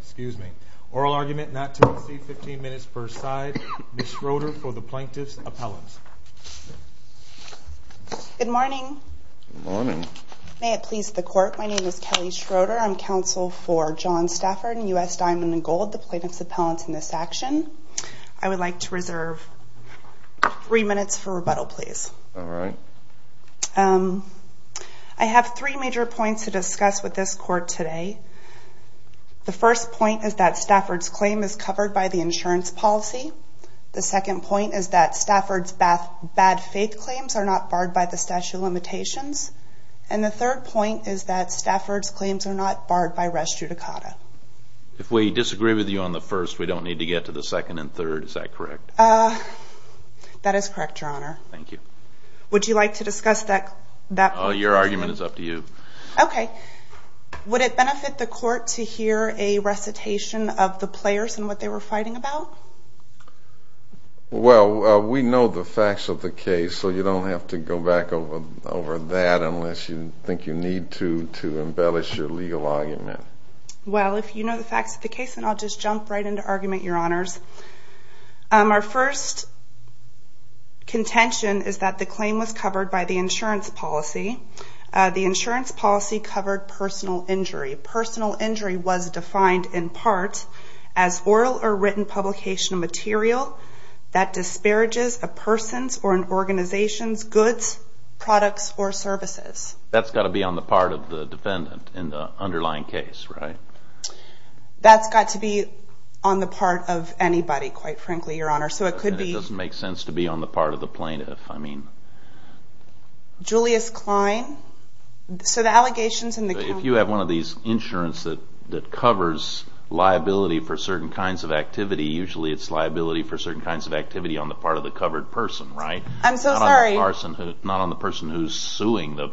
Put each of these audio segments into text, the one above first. excuse me, oral argument side. Ms Schroeder for t Good morning. Good mornin court. My name is Kelly S for the plaintiff's appell for John Stafford and U.S. I would like to reserve th please. All right. Um I h is that Stafford's claim i insurance policy. The seco limitations. And the thir the first we don't need t and third. Is that correc your honor. Thank you. Wo that that your argument i it benefit the court to h about? Well we know the f you don't have to go back you think you need to to the facts of the case and claim was covered by the The insurance policy cove Personal injury was defi a person's or an organiza services. That's got to b defendant in the underlyi your honor. So it could b to be on the part of the Klein. So the allegations have one of these insuranc for certain kinds of acti liability for certain kin on the part of the covere the covered person. Yes, your question. So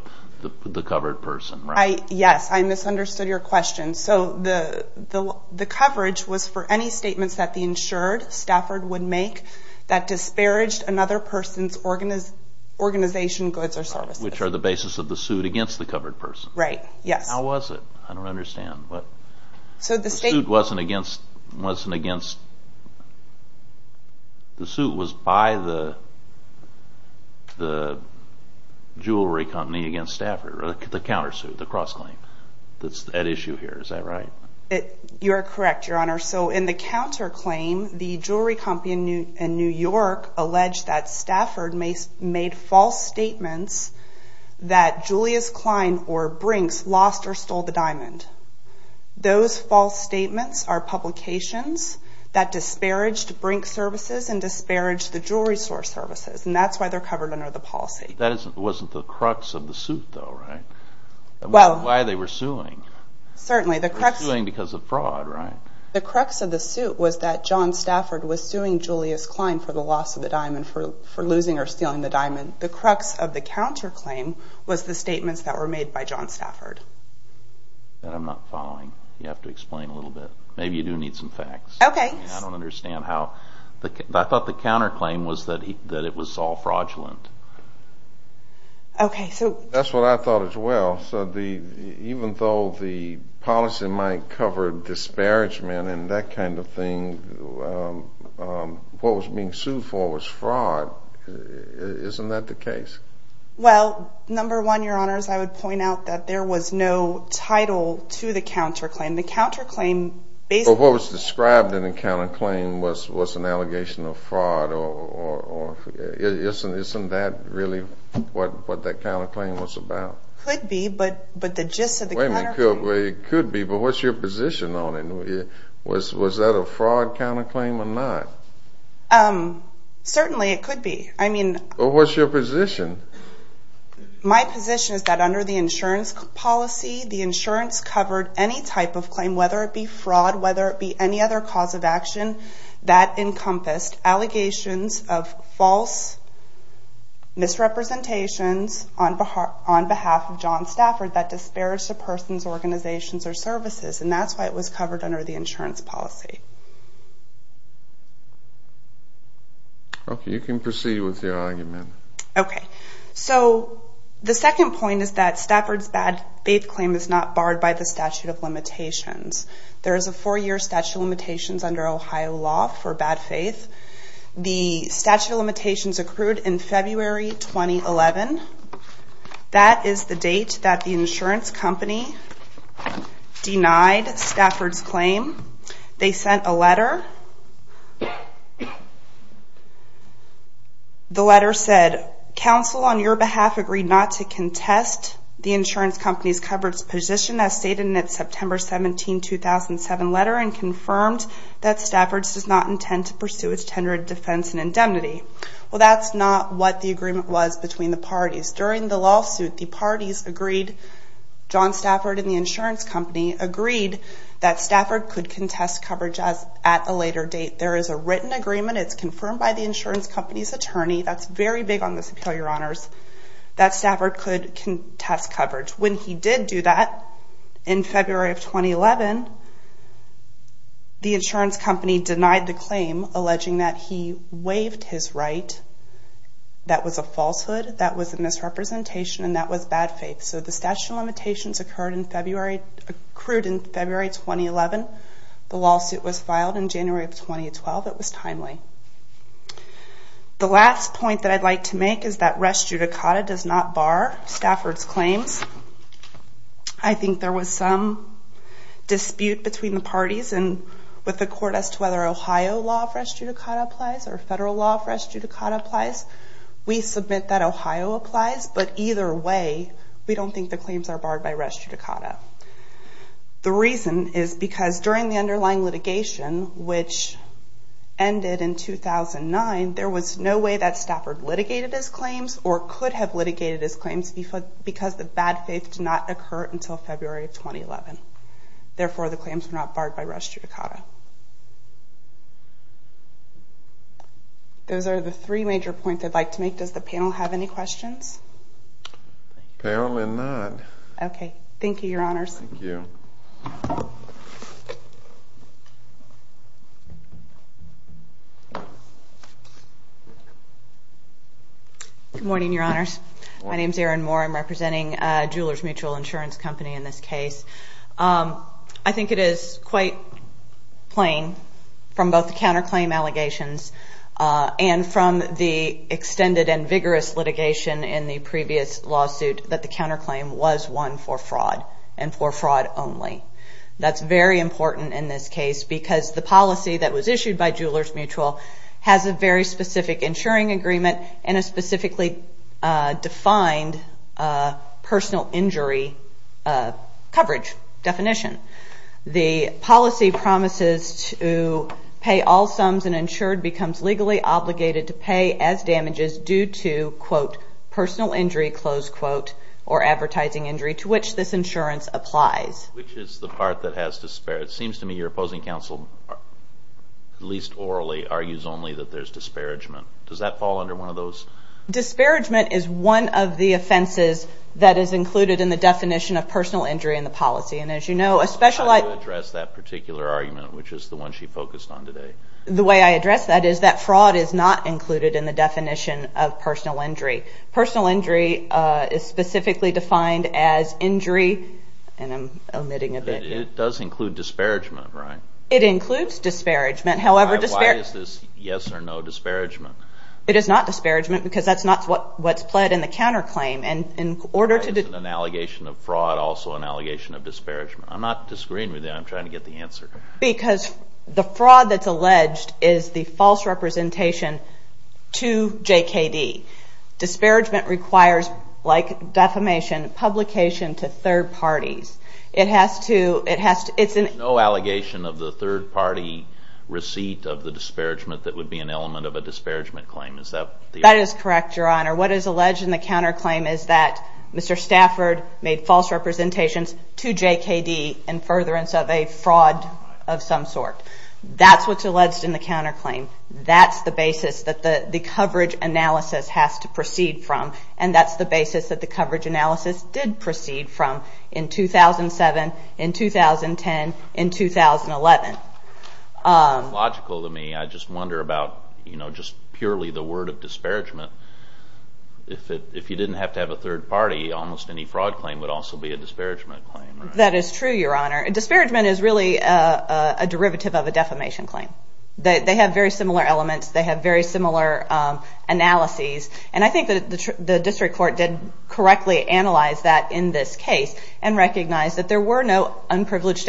the cov that the insured Stafford another person's organiza services, which are the b against the covered person wasn't against wasn't aga against Stafford, the cou claim that's at issue her the jewelry company in Ne Stafford made false state or Brinks lost or stole t false statements are publi to bring services and dis services and that's why t That wasn't the crux of t Well, why they were suing correct doing because of of the suit was that john Julius Klein for the loss for losing or stealing th of the counterclaim was t were made by john Stafford You have to explain a lit do need some facts. Okay. how I thought the counter Okay. So that's what I th though the policy might c and that kind of thing. U for was fraud. Isn't that one, your honors, I would was no title to the count claim based on what was d claim was was an allegatio isn't isn't that really w claim was about could be, the way it could be. But on it? Was that a fraud c Um, certainly it could be position? My position is policy, the insurance cov claim, whether it be frau any other cause of action false misrepresentation o organizations or services was covered under the ins you can proceed with your the second point is that is not barred by the stat There is a four year stat Ohio law for bad faith. T in February 2011. That is insurance company denied on your behalf agreed not company's coverage positi 17 2007 letter and confir does not intend to pursue that's not what the agree the parties. During the l agreed, john Stafford and at a later date. There is It's confirmed by the ins attorney. That's very big honors that Stafford coul when he did do that in fe insurance company denied That was a falsehood. Tha and that was bad faith. S occurred in February accr It was timely. The last p to make is that rest judi Stafford's claims. I thin dispute between the parti as to whether Ohio law of or federal law of rest jud submit that Ohio applies, don't think the claims ar litigation, which ended i or could have litigated h the bad faith did not occ of 2011. Therefore, the c Those are the three major to make. Does the panel h Apparently not. Okay. Tha mutual insurance company i think it is quite plain f and from the extended and was one for fraud and for very important in this ca that was issued by jewele specific insuring agreeme The policy promises to pa obligated to pay as damag injury, close quote, or a to which this insurance a part that has to spare. I opposing counsel, at leas that there's disparagement under one of those dispar injury in the policy. And I address that particular the one she focused on to is not included in the de as injury and I'm omitting disparagement. However, t because that's not what's also an allegation of disp disagreeing with that. I' answer because the fraud to J. K. D. Disparagement defamation publication to has to, it has to, it's n be an element of a dispar That is correct. Your hon in the counterclaim is th made false representations of a fraud of some sort. in the counterclaim. That the basis that the covera proceed from in 2000 and 7 about, you know, just pur disparagement. If you did third party, almost any f be a disparagement claim. Disparagement is really a a defamation claim. They elements, they have very And I think that the dist analyze that in this case there were no unprivileged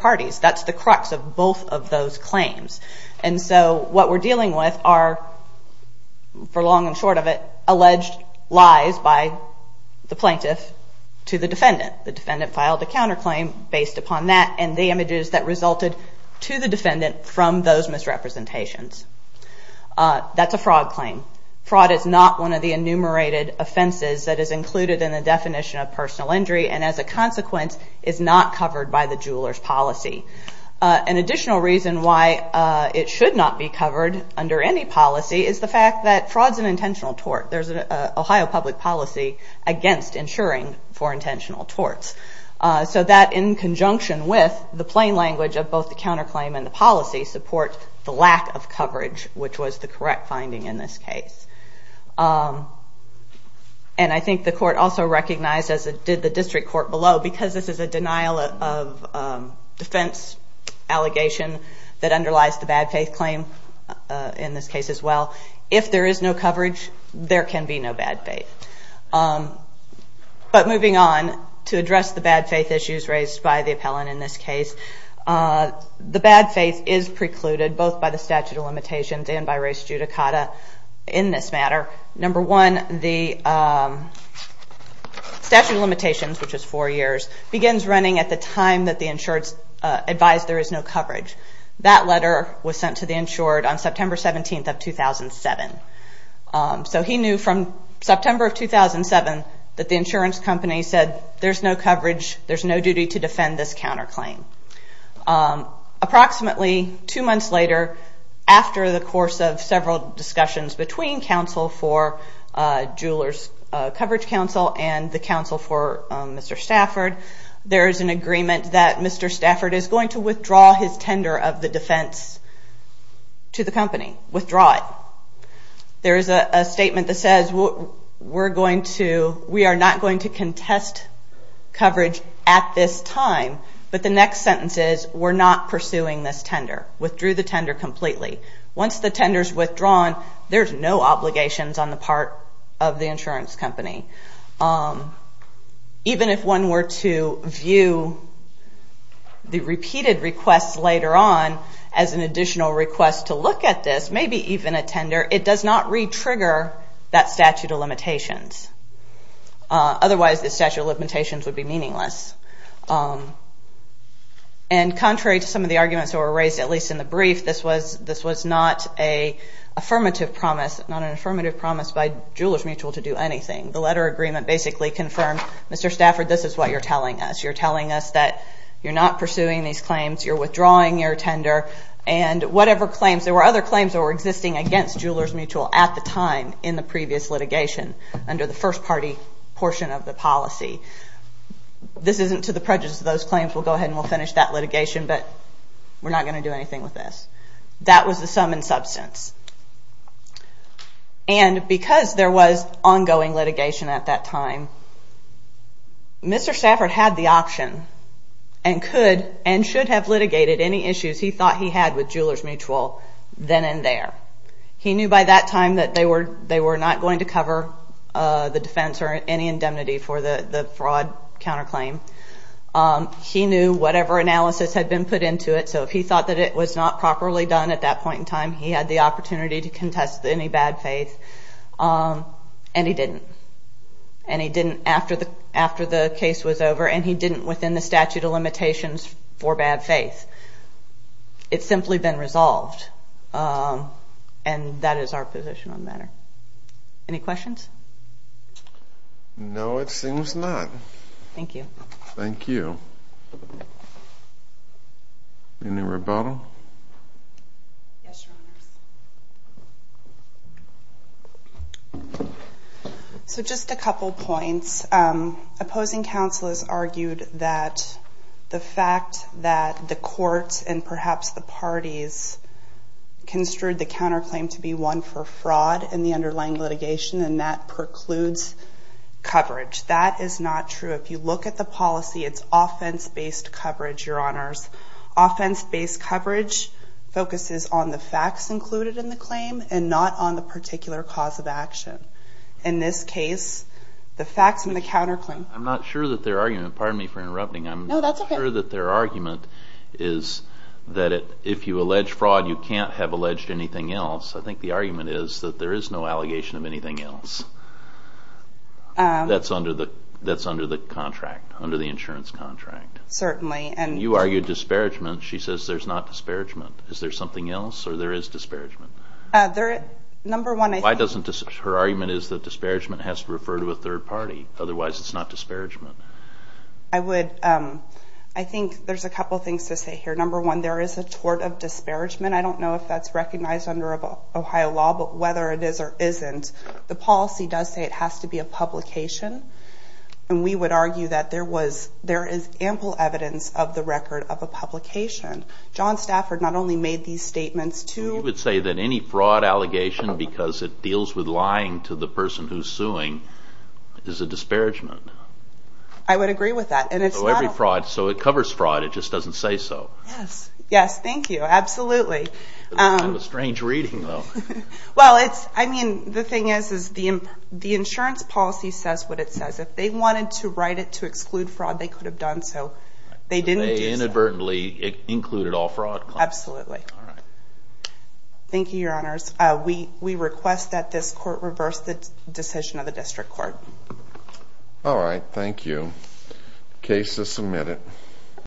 parties. That's the crux And so what we're dealing and short of it alleged l the plaintiff to the defe filed a counterclaim basi images that resulted to t those misrepresentations. Fraud is not one of the i that is included in the d injury and as a consequen by the jewelers policy. U why it should not be cove is the fact that fraud is There's an Ohio public po for intentional torts. So with the plain language o and the policy support th which was the correct fin Um, and I think the court as it did the district co this is a denial of um, d that underlies the bad fa in this case as well. If there can be no bad faith to address the bad faith the appellant in this cas is precluded both by the and by race judicata in t one, the um, statute of l four years begins running insureds advised there is letter was sent to the ins 17th of 2000 and seven. U september of 2000 and seve company said there's no c duty to defend this count two months later after the discussions between counc Council and the council f is an agreement that Mr S his tender of the defense withdraw it. There is a s we're going to, we are no coverage at this time. Bu we're not pursuing this t tender completely. Once t there's no obligations on company. Um, even if one to view the repeated requ additional request to loo a tender, it does not ret limitations. Otherwise, t would be meaningless. Um, of the arguments that were in the brief, this was, t promise, not an affirmati mutual to do anything. Th basically confirmed Mr Sta you're telling us, you're not pursuing these claims your tender and whatever other claims that were ex mutual at the time in the under the first party porc This isn't to the prejudi we'll go ahead and we'll but we're not going to do That was the sum and subs ongoing litigation at tha had the option and could any issues he thought he mutual then and there. He that they were, they were the defense or any indemn counterclaim. Um, he knew had been put into it. So it was not properly done he had the opportunity to any bad faith. Um, and he after the, after the case didn't within the statute bad faith. It's simply be that is our position on t No, it seems not. Thank y So just a couple of point has argued that the fact and perhaps the parties c claim to be one for fraud litigation and that preclu is not true. If you look offense based coverage, y based coverage focuses on the claim and not on the of action. In this case, counterclaim. I'm not sur pardon me for interrupting their argument is that if you can't have alleged an the argument is that there of anything else. Um, tha under the contract, under Certainly. And you argue says there's not disparag else? Or there is dispara one. Why doesn't her argu has to refer to a third p not disparagement. I woul a couple of things to say is a tort of disparagement that's recognized under O it is or isn't, the polic to be a publication. And there was, there is ample the record of a publicati made these statements to, any fraud allegation beca to the person who's suing I would agree with that a So it covers fraud. It ju Yes. Yes. Thank you. Abso reading though. Well, it' is, is the, the insurance it says. If they wanted t they could have done. So it included all fraud? Ab your honors. We request t the decision of the distr